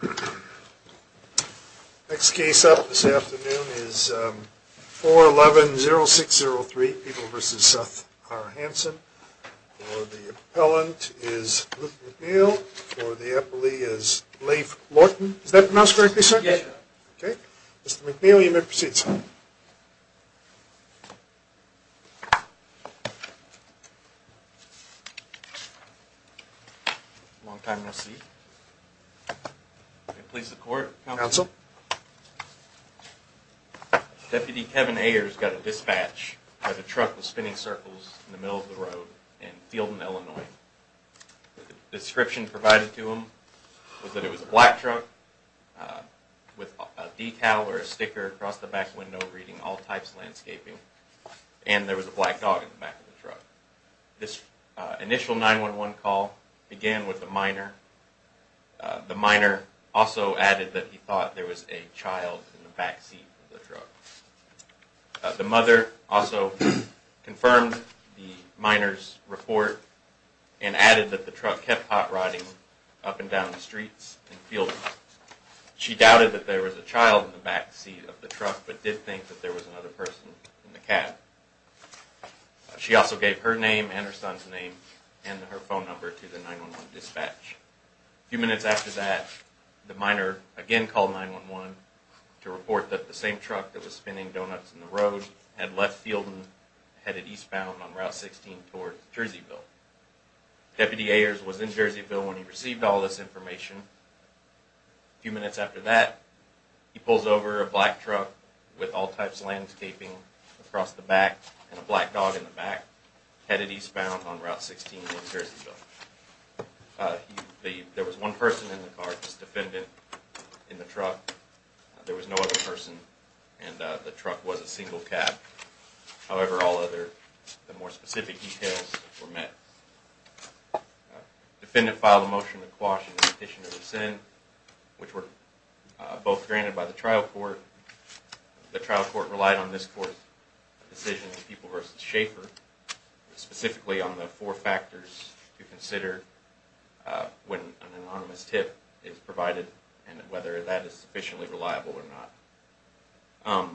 The next case up this afternoon is 411-0603, People v. Seth R. Hansen. For the appellant is Luke McNeil. For the appellee is Leif Lorton. Is that pronounced correctly, sir? Yes. Okay. Mr. McNeil, you may proceed, sir. Long time no see. May it please the court, counsel? Counsel. Deputy Kevin Ayers got a dispatch that a truck was spinning circles in the middle of the road in Fielden, Illinois. The description provided to him was that it was a black truck with a decal or a sticker across the back window reading, All Types Landscaping, and there was a black dog in the back of the truck. This initial 911 call began with a minor. The minor also added that he thought there was a child in the backseat of the truck. The mother also confirmed the minor's report and added that the truck kept hot-rodding up and down the streets in Fielden. She doubted that there was a child in the backseat of the truck but did think that there was another person in the cab. She also gave her name and her son's name and her phone number to the 911 dispatch. A few minutes after that, the minor again called 911 to report that the same truck that was spinning donuts in the road had left Fielden and headed eastbound on Route 16 towards Jerseyville. Deputy Ayers was in Jerseyville when he received all this information. A few minutes after that, he pulls over a black truck with All Types Landscaping across the back and a black dog in the back headed eastbound on Route 16 in Jerseyville. There was one person in the car, just a defendant in the truck. There was no other person and the truck was a single cab. However, all other more specific details were met. The defendant filed a motion to quash and petition to rescind, which were both granted by the trial court. The trial court relied on this court's decision, People v. Schaefer, specifically on the four factors to consider when an anonymous tip is provided and whether that is sufficiently reliable or not.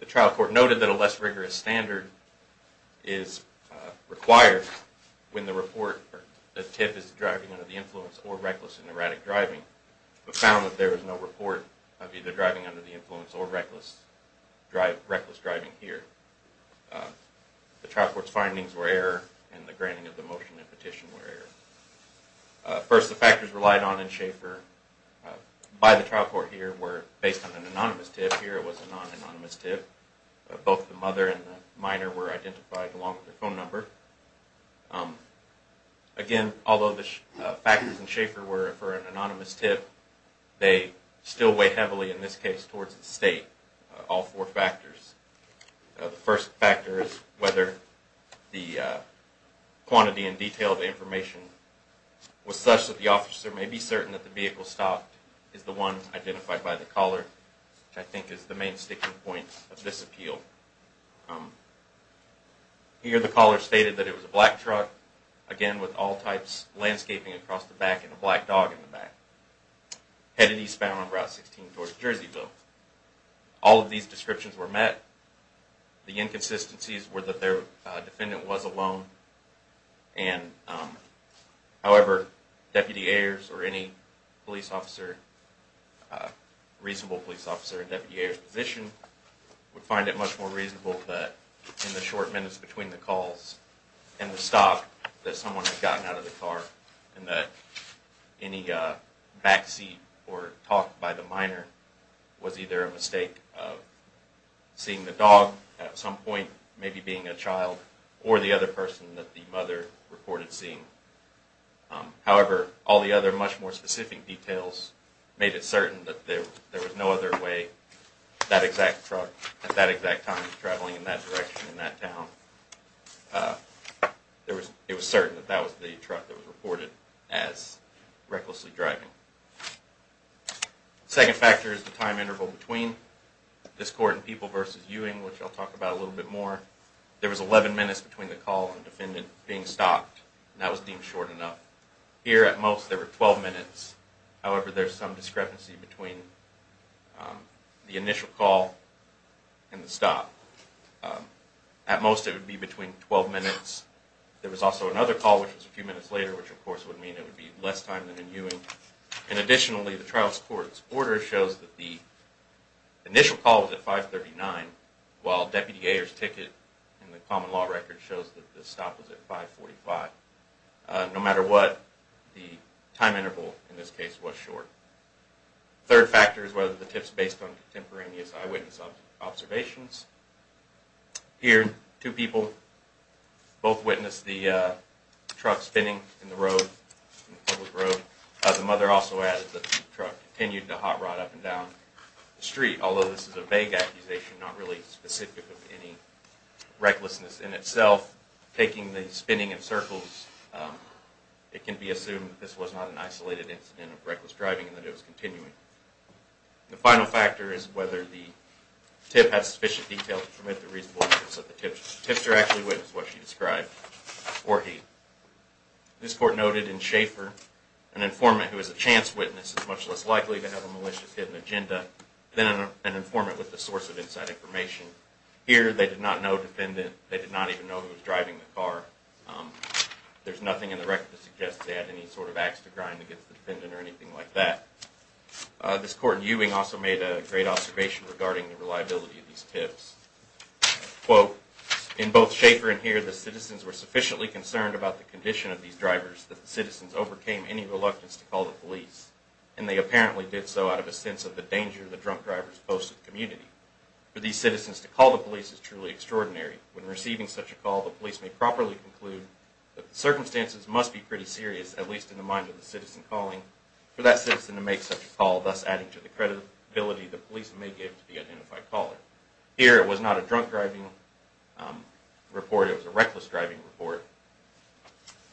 The trial court noted that a less rigorous standard is required when the tip is driving under the influence or reckless and erratic driving, but found that there was no report of either driving under the influence or reckless driving here. The trial court's findings were error and the granting of the motion and petition were error. First, the factors relied on in Schaefer by the trial court here were based on an anonymous tip. Here it was a non-anonymous tip. Both the mother and the minor were identified along with their phone number. Again, although the factors in Schaefer were for an anonymous tip, they still weigh heavily, in this case, towards the state, all four factors. The first factor is whether the quantity and detail of the information was such that the officer may be certain that the vehicle stopped is the one identified by the caller, which I think is the main sticking point of this appeal. Here the caller stated that it was a black truck, again, with all types landscaping across the back and a black dog in the back, headed eastbound on Route 16 towards Jerseyville. All of these descriptions were met. The inconsistencies were that their defendant was alone and, however, Deputy Ayers or any police officer, reasonable police officer in Deputy Ayers' position, would find it much more reasonable that in the short minutes between the calls and the stop that someone had gotten out of the car and that any backseat or talk by the minor was either a mistake of seeing the dog at some point, maybe being a child, or the other person that the mother reported seeing. However, all the other much more specific details made it certain that there was no other way that exact truck, at that exact time, was traveling in that direction in that town. It was certain that that was the truck that was reported as recklessly driving. The second factor is the time interval between this court and People v. Ewing, which I'll talk about a little bit more. There was 11 minutes between the call and the defendant being stopped, and that was deemed short enough. Here, at most, there were 12 minutes. However, there's some discrepancy between the initial call and the stop. At most, it would be between 12 minutes. There was also another call, which was a few minutes later, which, of course, would mean it would be less time than in Ewing. Additionally, the trial's court's order shows that the initial call was at 539, while Deputy Ayers' ticket in the common law record shows that the stop was at 545. No matter what, the time interval, in this case, was short. The third factor is whether the tip's based on contemporaneous eyewitness observations. Here, two people both witnessed the truck spinning in the road, in the public road. The mother also added that the truck continued to hot rod up and down the street, although this is a vague accusation, not really specific of any recklessness in itself. Taking the spinning in circles, it can be assumed that this was not an isolated incident of reckless driving and that it was continuing. The final factor is whether the tip had sufficient detail to permit the reasonable use of the tip. The tipster actually witnessed what she described, or he. This court noted in Schaefer, an informant who is a chance witness is much less likely to have a malicious hidden agenda than an informant with a source of inside information. Here, they did not know a defendant. They did not even know who was driving the car. There's nothing in the record that suggests they had any sort of acts to grind against the defendant or anything like that. This court in Ewing also made a great observation regarding the reliability of these tips. Quote, in both Schaefer and here, the citizens were sufficiently concerned about the condition of these drivers that the citizens overcame any reluctance to call the police. And they apparently did so out of a sense of the danger the drunk drivers posed to the community. For these citizens to call the police is truly extraordinary. When receiving such a call, the police may properly conclude that the circumstances must be pretty serious, at least in the mind of the citizen calling for that citizen to make such a call, thus adding to the credibility the police may give to the identified caller. Here, it was not a drunk driving report. It was a reckless driving report.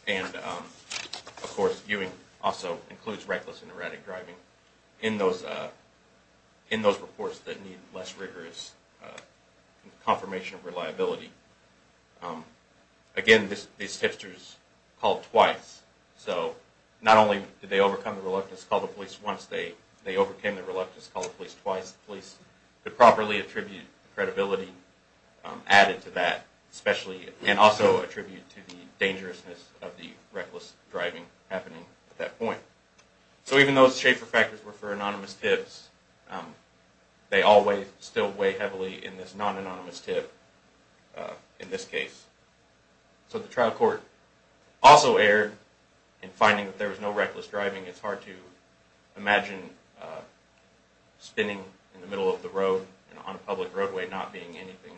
And of course, Ewing also includes reckless and erratic driving in those reports that need less rigorous confirmation of reliability. Again, these hipsters called twice. So not only did they overcome the reluctance to call the police once, they overcame the reluctance to call the police twice. The police could properly attribute the credibility added to that, and also attribute to the dangerousness of the reckless driving happening at that point. So even though Schaefer factors were for anonymous tips, they all still weigh heavily in this non-anonymous tip in this case. So the trial court also erred in finding that there was no reckless driving. It's hard to imagine spinning in the middle of the road on a public roadway not being anything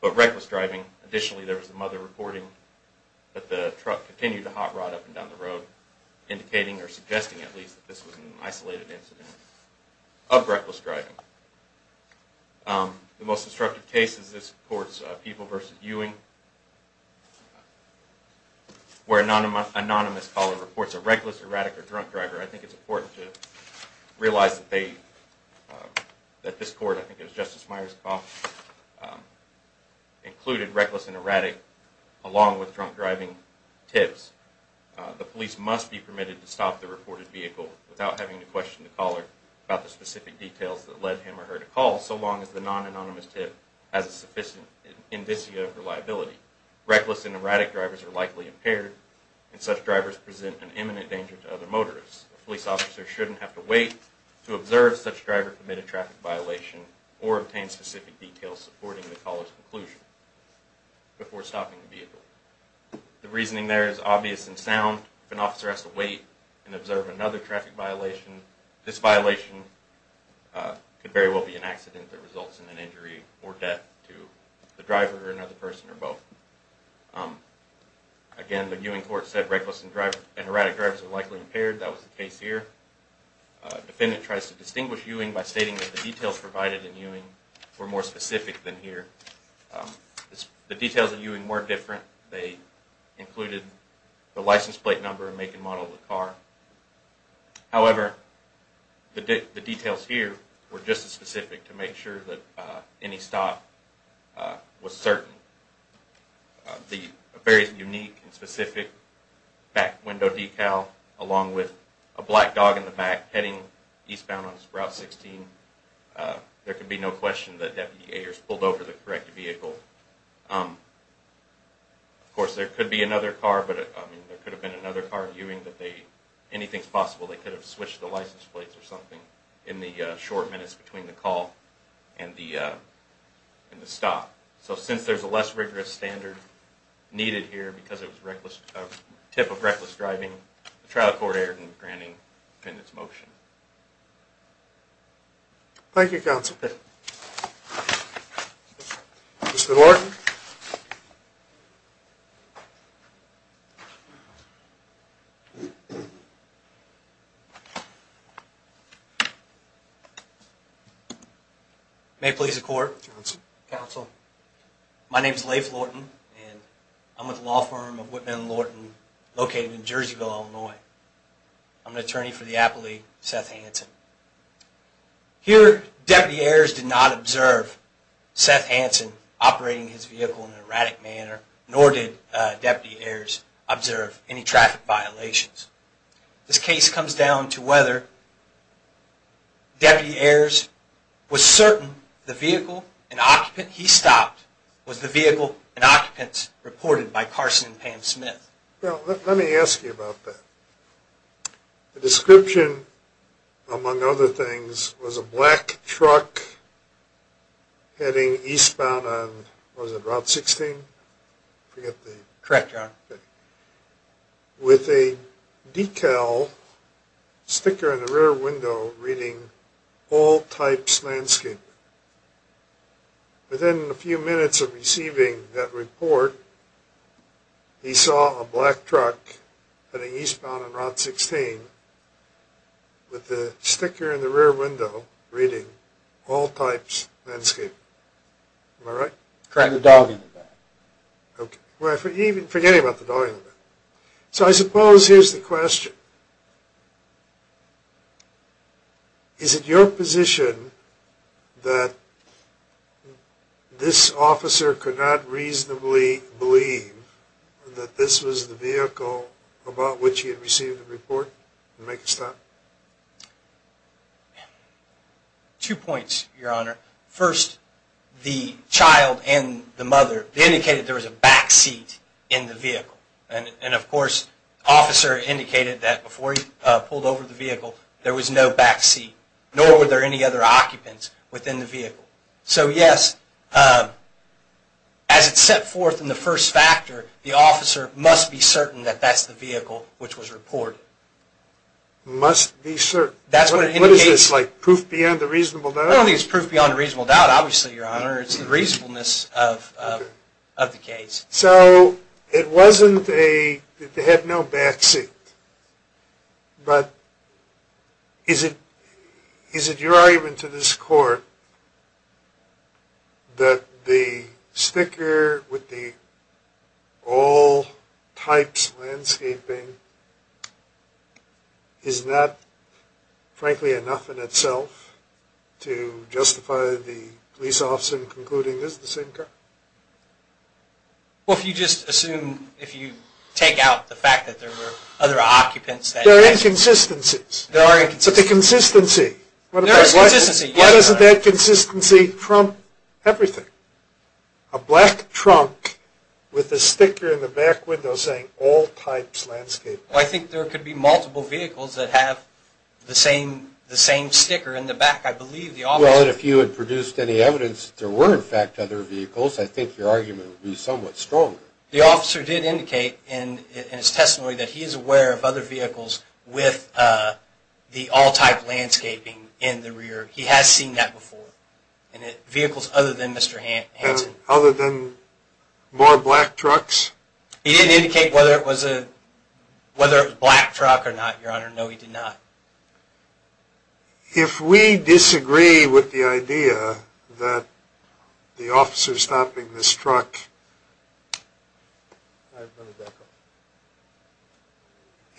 but reckless driving. Additionally, there was some other reporting that the truck continued to hot rod up and down the road, indicating or suggesting at least that this was an isolated incident of reckless driving. The most disruptive case is this court's People v. Ewing, where an anonymous caller reports a reckless, erratic, or drunk driver. I think it's important to realize that this court, I think it was Justice Myers Coff, included reckless and erratic along with drunk driving tips. The police must be permitted to stop the reported vehicle without having to question the caller about the specific details that led him or her to call, so long as the non-anonymous tip has a sufficient indicia of reliability. Reckless and erratic drivers are likely impaired, and such drivers present an imminent danger to other motorists. A police officer shouldn't have to wait to observe such driver-permitted traffic violation or obtain specific details supporting the caller's conclusion before stopping the vehicle. The reasoning there is obvious and sound. If an officer has to wait and observe another traffic violation, this violation could very well be an accident that results in an injury or death to the driver or another person or both. Again, the Ewing court said reckless and erratic drivers are likely impaired. That was the case here. The defendant tries to distinguish Ewing by stating that the details provided in Ewing were more specific than here. The details in Ewing were different. They included the license plate number and make and model of the car. However, the details here were just as specific to make sure that any stop was certain. The very unique and specific back window decal along with a black dog in the back heading eastbound on Sprout 16, there can be no question that Deputy Ayers pulled over the correct vehicle. Of course, there could have been another car in Ewing. Anything is possible. They could have switched the license plates or something in the short minutes between the call and the stop. So since there's a less rigorous standard needed here because it was a tip of reckless driving, the trial court erred in granting the defendant's motion. Thank you, counsel. Mr. Lorton. May it please the court. Counsel. My name is Leif Lorton. I'm with the law firm of Whitman and Lorton located in Jerseyville, Illinois. I'm an attorney for the Apple League, Seth Hansen. Here, Deputy Ayers did not observe Seth Hansen operating his vehicle in an erratic manner, nor did Deputy Ayers observe any traffic violations. This case comes down to whether Deputy Ayers was certain the vehicle and occupant he stopped was the vehicle and occupants reported by Carson and Pam Smith. Well, let me ask you about that. The description, among other things, was a black truck heading eastbound on, was it Route 16? Correct, Your Honor. With a decal sticker in the rear window reading, All Types Landscape. Within a few minutes of receiving that report, he saw a black truck heading eastbound on Route 16 with the sticker in the rear window reading, All Types Landscape. Am I right? Trying to dog him. Forgetting about the dogging. So I suppose here's the question. Is it your position that this officer could not reasonably believe that this was the vehicle about which he had received the report and make a stop? Two points, Your Honor. First, the child and the mother indicated there was a backseat in the vehicle. And, of course, the officer indicated that before he pulled over the vehicle there was no backseat, nor were there any other occupants within the vehicle. So, yes, as it's set forth in the first factor, the officer must be certain that that's the vehicle which was reported. Must be certain? That's what it indicates. What is this, like proof beyond the reasonable doubt? I don't think it's proof beyond the reasonable doubt, obviously, Your Honor. It's the reasonableness of the case. So it wasn't that they had no backseat. But is it your argument to this court that the sticker with the All Types Landscaping is not, frankly, enough in itself to justify the police officer concluding this is the same car? Well, if you just assume, if you take out the fact that there were other occupants. There are inconsistencies. There are inconsistencies. But the consistency. There is consistency, yes, Your Honor. Why doesn't that consistency trump everything? A black trunk with a sticker in the back window saying All Types Landscaping. Well, I think there could be multiple vehicles that have the same sticker in the back, I believe. Well, if you had produced any evidence that there were, in fact, other vehicles, I think your argument would be somewhat stronger. The officer did indicate in his testimony that he is aware of other vehicles with the All Type Landscaping in the rear. He has seen that before. Vehicles other than Mr. Hansen. Other than more black trucks? He didn't indicate whether it was a black truck or not, Your Honor. No, he did not. If we disagree with the idea that the officer stopping this truck,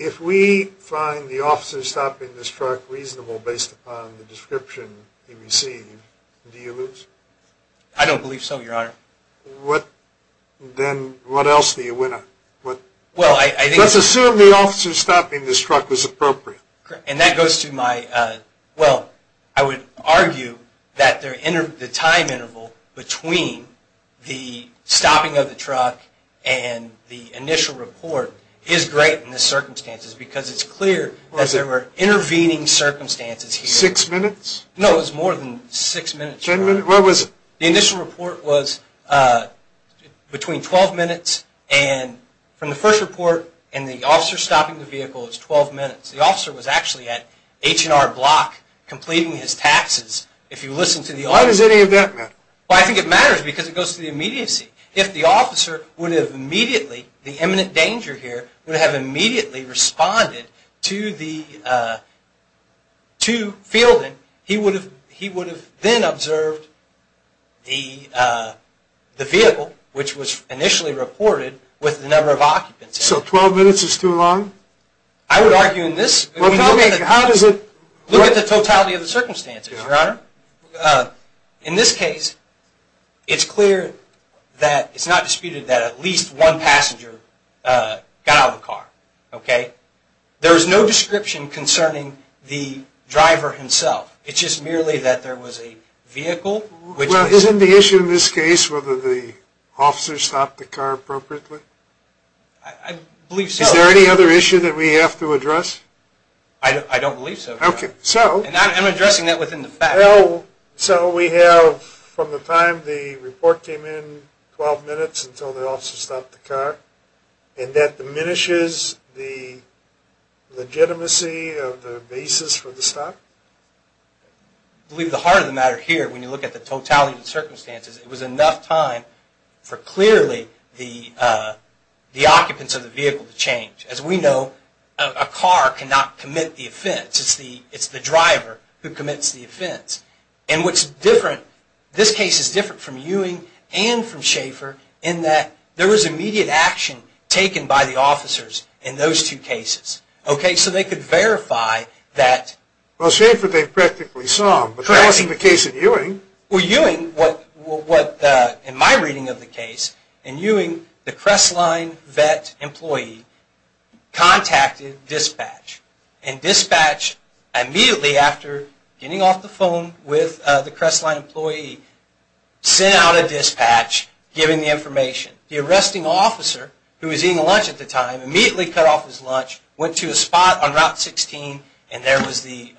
If we find the officer stopping this truck reasonable based upon the description he received, do you lose? I don't believe so, Your Honor. Then what else do you win on? Let's assume the officer stopping this truck was appropriate. And that goes to my, well, I would argue that the time interval between the stopping of the truck and the initial report is great in this circumstance, because it's clear that there were intervening circumstances here. Six minutes? No, it was more than six minutes, Your Honor. Where was it? The initial report was between 12 minutes and, from the first report and the officer stopping the vehicle, it's 12 minutes. The officer was actually at H&R Block completing his taxes. Why does any of that matter? Well, I think it matters because it goes to the immediacy. If the officer would have immediately, the imminent danger here, would have immediately responded to Fielding, he would have then observed the vehicle, which was initially reported, with the number of occupants. So 12 minutes is too long? I would argue in this, look at the totality of the circumstances, Your Honor. In this case, it's clear that it's not disputed that at least one passenger got out of the car. Okay? There is no description concerning the driver himself. It's just merely that there was a vehicle. Well, isn't the issue in this case whether the officer stopped the car appropriately? I believe so. Is there any other issue that we have to address? I don't believe so, Your Honor. I'm addressing that within the facts. So we have, from the time the report came in, 12 minutes until the officer stopped the car, and that diminishes the legitimacy of the basis for the stop? I believe the heart of the matter here, when you look at the totality of the circumstances, it was enough time for clearly the occupants of the vehicle to change. As we know, a car cannot commit the offense. It's the driver who commits the offense. And what's different, this case is different from Ewing and from Schaefer, in that there was immediate action taken by the officers in those two cases. Okay? So they could verify that. Well, Schaefer, they've practically solved. But that wasn't the case in Ewing. Well, Ewing, in my reading of the case, in Ewing, the Crestline vet employee contacted dispatch. And dispatch, immediately after getting off the phone with the Crestline employee, sent out a dispatch giving the information. The arresting officer, who was eating lunch at the time, immediately cut off his lunch, went to a spot on Route 16, and there was the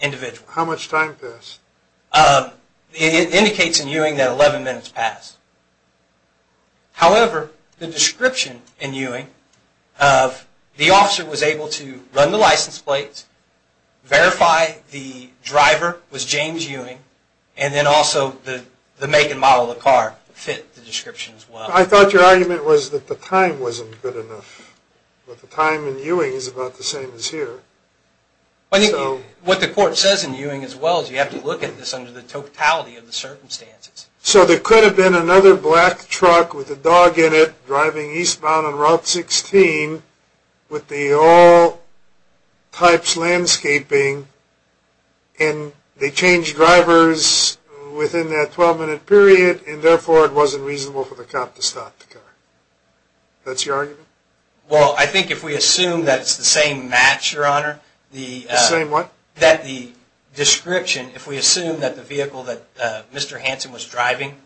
individual. How much time passed? It indicates in Ewing that 11 minutes passed. However, the description in Ewing of the officer was able to run the license plates, verify the driver was James Ewing, and then also the make and model of the car fit the description as well. I thought your argument was that the time wasn't good enough. But the time in Ewing is about the same as here. What the court says in Ewing as well is you have to look at this under the totality of the circumstances. So there could have been another black truck with a dog in it, driving eastbound on Route 16, with the all types landscaping, and they changed drivers within that 12-minute period, and therefore it wasn't reasonable for the cop to stop the car. That's your argument? Well, I think if we assume that it's the same match, Your Honor. The same what? That the description, if we assume that the vehicle that Mr. Hansen was driving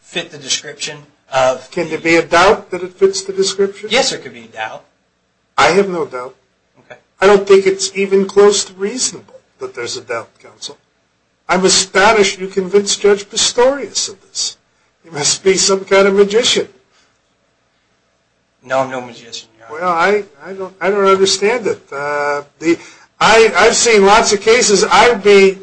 fit the description. Can there be a doubt that it fits the description? Yes, there could be a doubt. I have no doubt. Okay. I don't think it's even close to reasonable that there's a doubt, Counsel. I'm astonished you convinced Judge Pistorius of this. He must be some kind of magician. No, I'm no magician, Your Honor. Well, I don't understand it. I've seen lots of cases. I'd be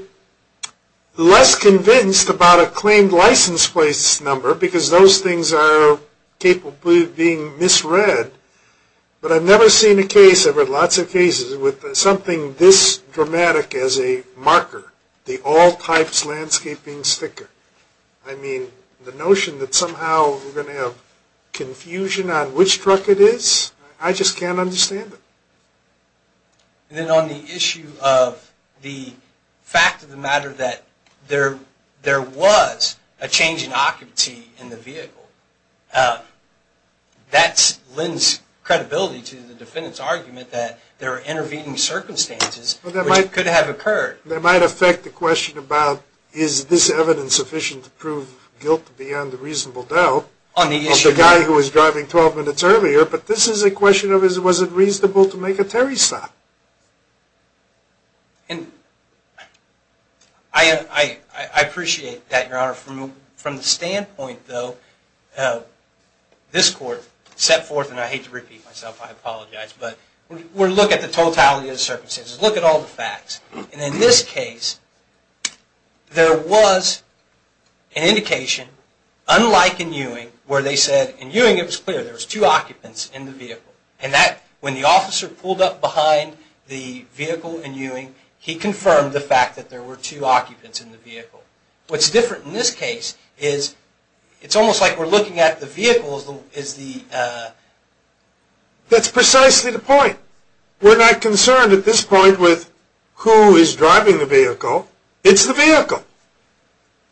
less convinced about a claimed license plate number, because those things are capable of being misread, but I've never seen a case, I've heard lots of cases, with something this dramatic as a marker, the all types landscaping sticker. I mean, the notion that somehow we're going to have confusion on which truck it is, I just can't understand it. Then on the issue of the fact of the matter that there was a change in occupancy in the vehicle, that lends credibility to the defendant's argument that there are intervening circumstances, which could have occurred. That might affect the question about is this evidence sufficient to prove guilt beyond a reasonable doubt, of the guy who was driving 12 minutes earlier, but this is a question of was it reasonable to make a Terry stop? And I appreciate that, Your Honor. From the standpoint, though, this Court set forth, and I hate to repeat myself, I apologize, but we're looking at the totality of the circumstances. Look at all the facts. And in this case, there was an indication, unlike in Ewing, where they said, in Ewing it was clear there was two occupants in the vehicle. And that, when the officer pulled up behind the vehicle in Ewing, he confirmed the fact that there were two occupants in the vehicle. What's different in this case is it's almost like we're looking at the vehicle as the... That's precisely the point. We're not concerned at this point with who is driving the vehicle. It's the vehicle.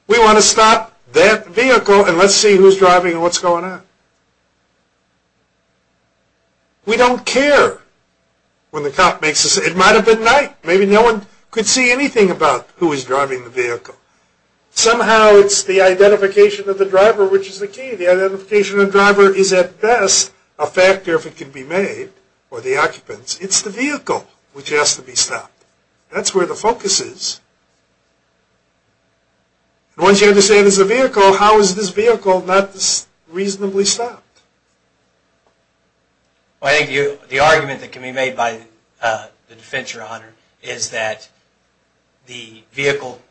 We want to stop that vehicle and let's see who's driving and what's going on. We don't care when the cop makes a... It might have been night. Maybe no one could see anything about who was driving the vehicle. Somehow it's the identification of the driver which is the key. The identification of the driver is, at best, a factor if it can be made, or the occupants. It's the vehicle which has to be stopped. That's where the focus is. Once you understand it's the vehicle, how is this vehicle not reasonably stopped? The argument that can be made by the defense your honor is that the vehicle...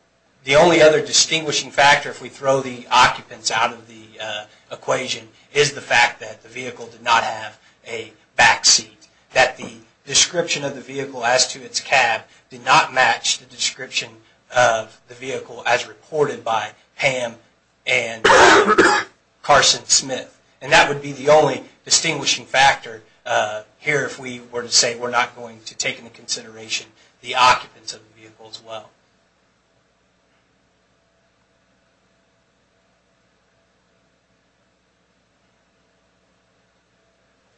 The only other distinguishing factor, if we throw the occupants out of the equation, is the fact that the vehicle did not have a backseat. That the description of the vehicle as to its cab did not match the description of the vehicle as reported by Pam and Carson Smith. That would be the only distinguishing factor here if we were to say we're not going to take into consideration the occupants of the vehicle as well.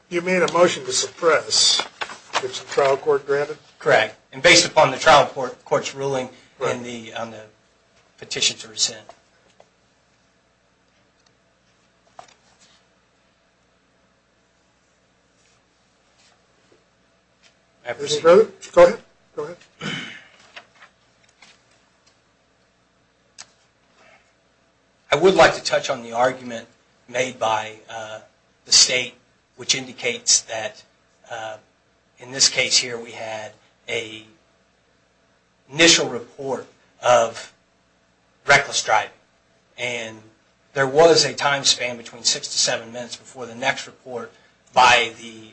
You made a motion to suppress. Is the trial court granted? Correct. And based upon the trial court's ruling on the petition to rescind. Go ahead. I would like to touch on the argument made by the state, which indicates that in this case here we had an initial report of reckless driving. And there was a time span between six to seven minutes before the next report by the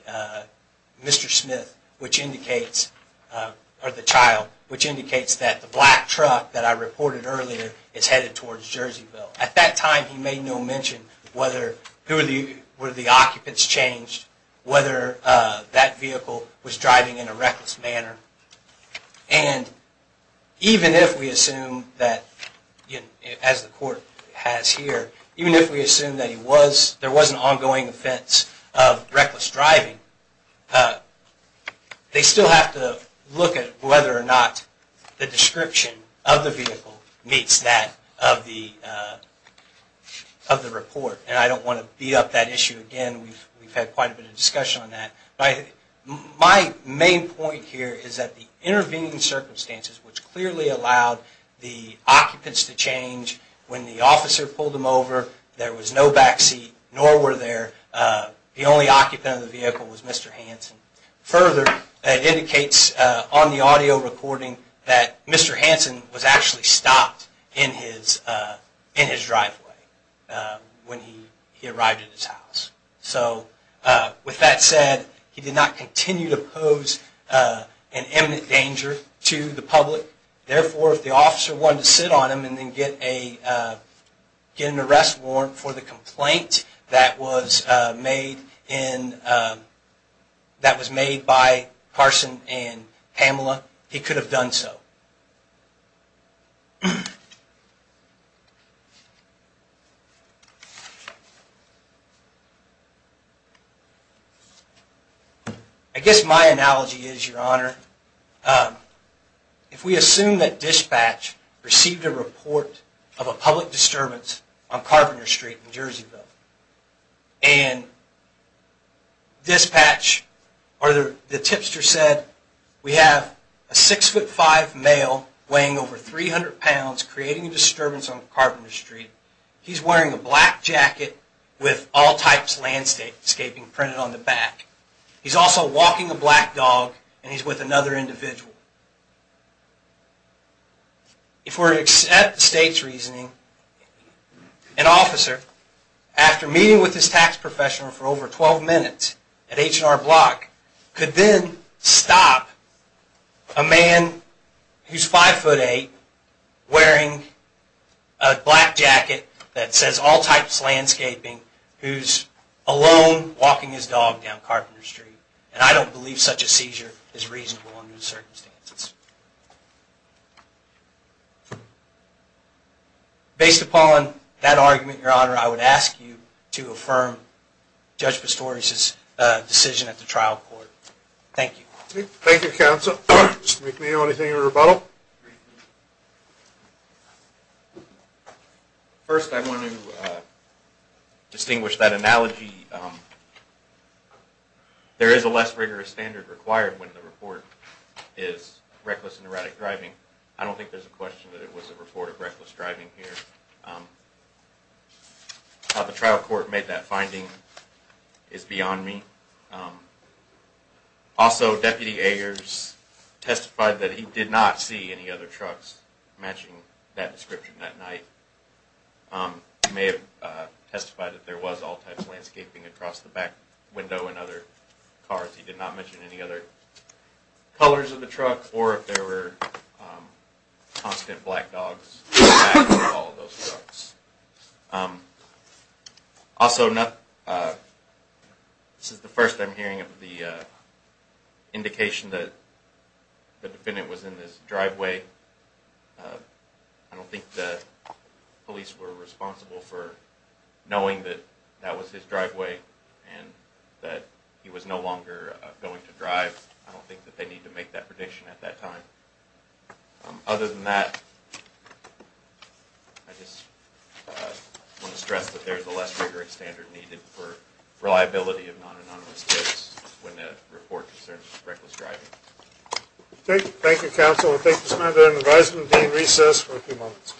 child, which indicates that the black truck that I reported earlier is headed towards Jerseyville. At that time he made no mention whether the occupants changed, whether that vehicle was driving in a reckless manner. And even if we assume that, as the court has here, even if we assume that there was an ongoing offense of reckless driving, they still have to look at whether or not the description of the vehicle meets that of the report. And I don't want to beat up that issue again. We've had quite a bit of discussion on that. My main point here is that the intervening circumstances, which clearly allowed the occupants to change when the officer pulled them over, there was no backseat, nor were there. The only occupant of the vehicle was Mr. Hansen. Further, it indicates on the audio recording that Mr. Hansen was actually stopped in his driveway when he arrived at his house. So with that said, he did not continue to pose an imminent danger to the public. Therefore, if the officer wanted to sit on him and then get an arrest warrant for the complaint that was made by Carson and Pamela, he could have done so. I guess my analogy is, Your Honor, if we assume that dispatch received a report of a public disturbance on Carpenter Street in Jerseyville, and the tipster said, we have a 6'5 male weighing over 300 pounds creating a disturbance on Carpenter Street. He's wearing a black jacket with all types of landscaping printed on the back. He's also walking a black dog, and he's with another individual. If we're to accept the State's reasoning, an officer, after meeting with his tax professional for over 12 minutes at H&R Block, could then stop a man who's 5'8, wearing a black jacket that says all types of landscaping, who's alone walking his dog down Carpenter Street. And I don't believe such a seizure is reasonable under the circumstances. Based upon that argument, Your Honor, I would ask you to affirm Judge Pistorius' decision at the trial court. Thank you. Thank you, counsel. Mr. McNeil, anything in rebuttal? First, I want to distinguish that analogy. There is a less rigorous standard required when the report is reckless and erratic driving. I don't think there's a question that it was a report of reckless driving here. How the trial court made that finding is beyond me. Also, Deputy Agers testified that he did not see any other trucks matching that description that night. He may have testified that there was all types of landscaping across the back window in other cars. He did not mention any other colors of the truck, or if there were constant black dogs in the back of all those trucks. Also, this is the first I'm hearing of the indication that the defendant was in this driveway. I don't think the police were responsible for knowing that that was his driveway and that he was no longer going to drive. I don't think that they need to make that prediction at that time. Other than that, I just want to stress that there is a less rigorous standard needed for reliability of non-anonymous case when the report concerns reckless driving. Thank you, counsel. Thank you, Mr. McNeil. I'm advising the dean to recess for a few moments.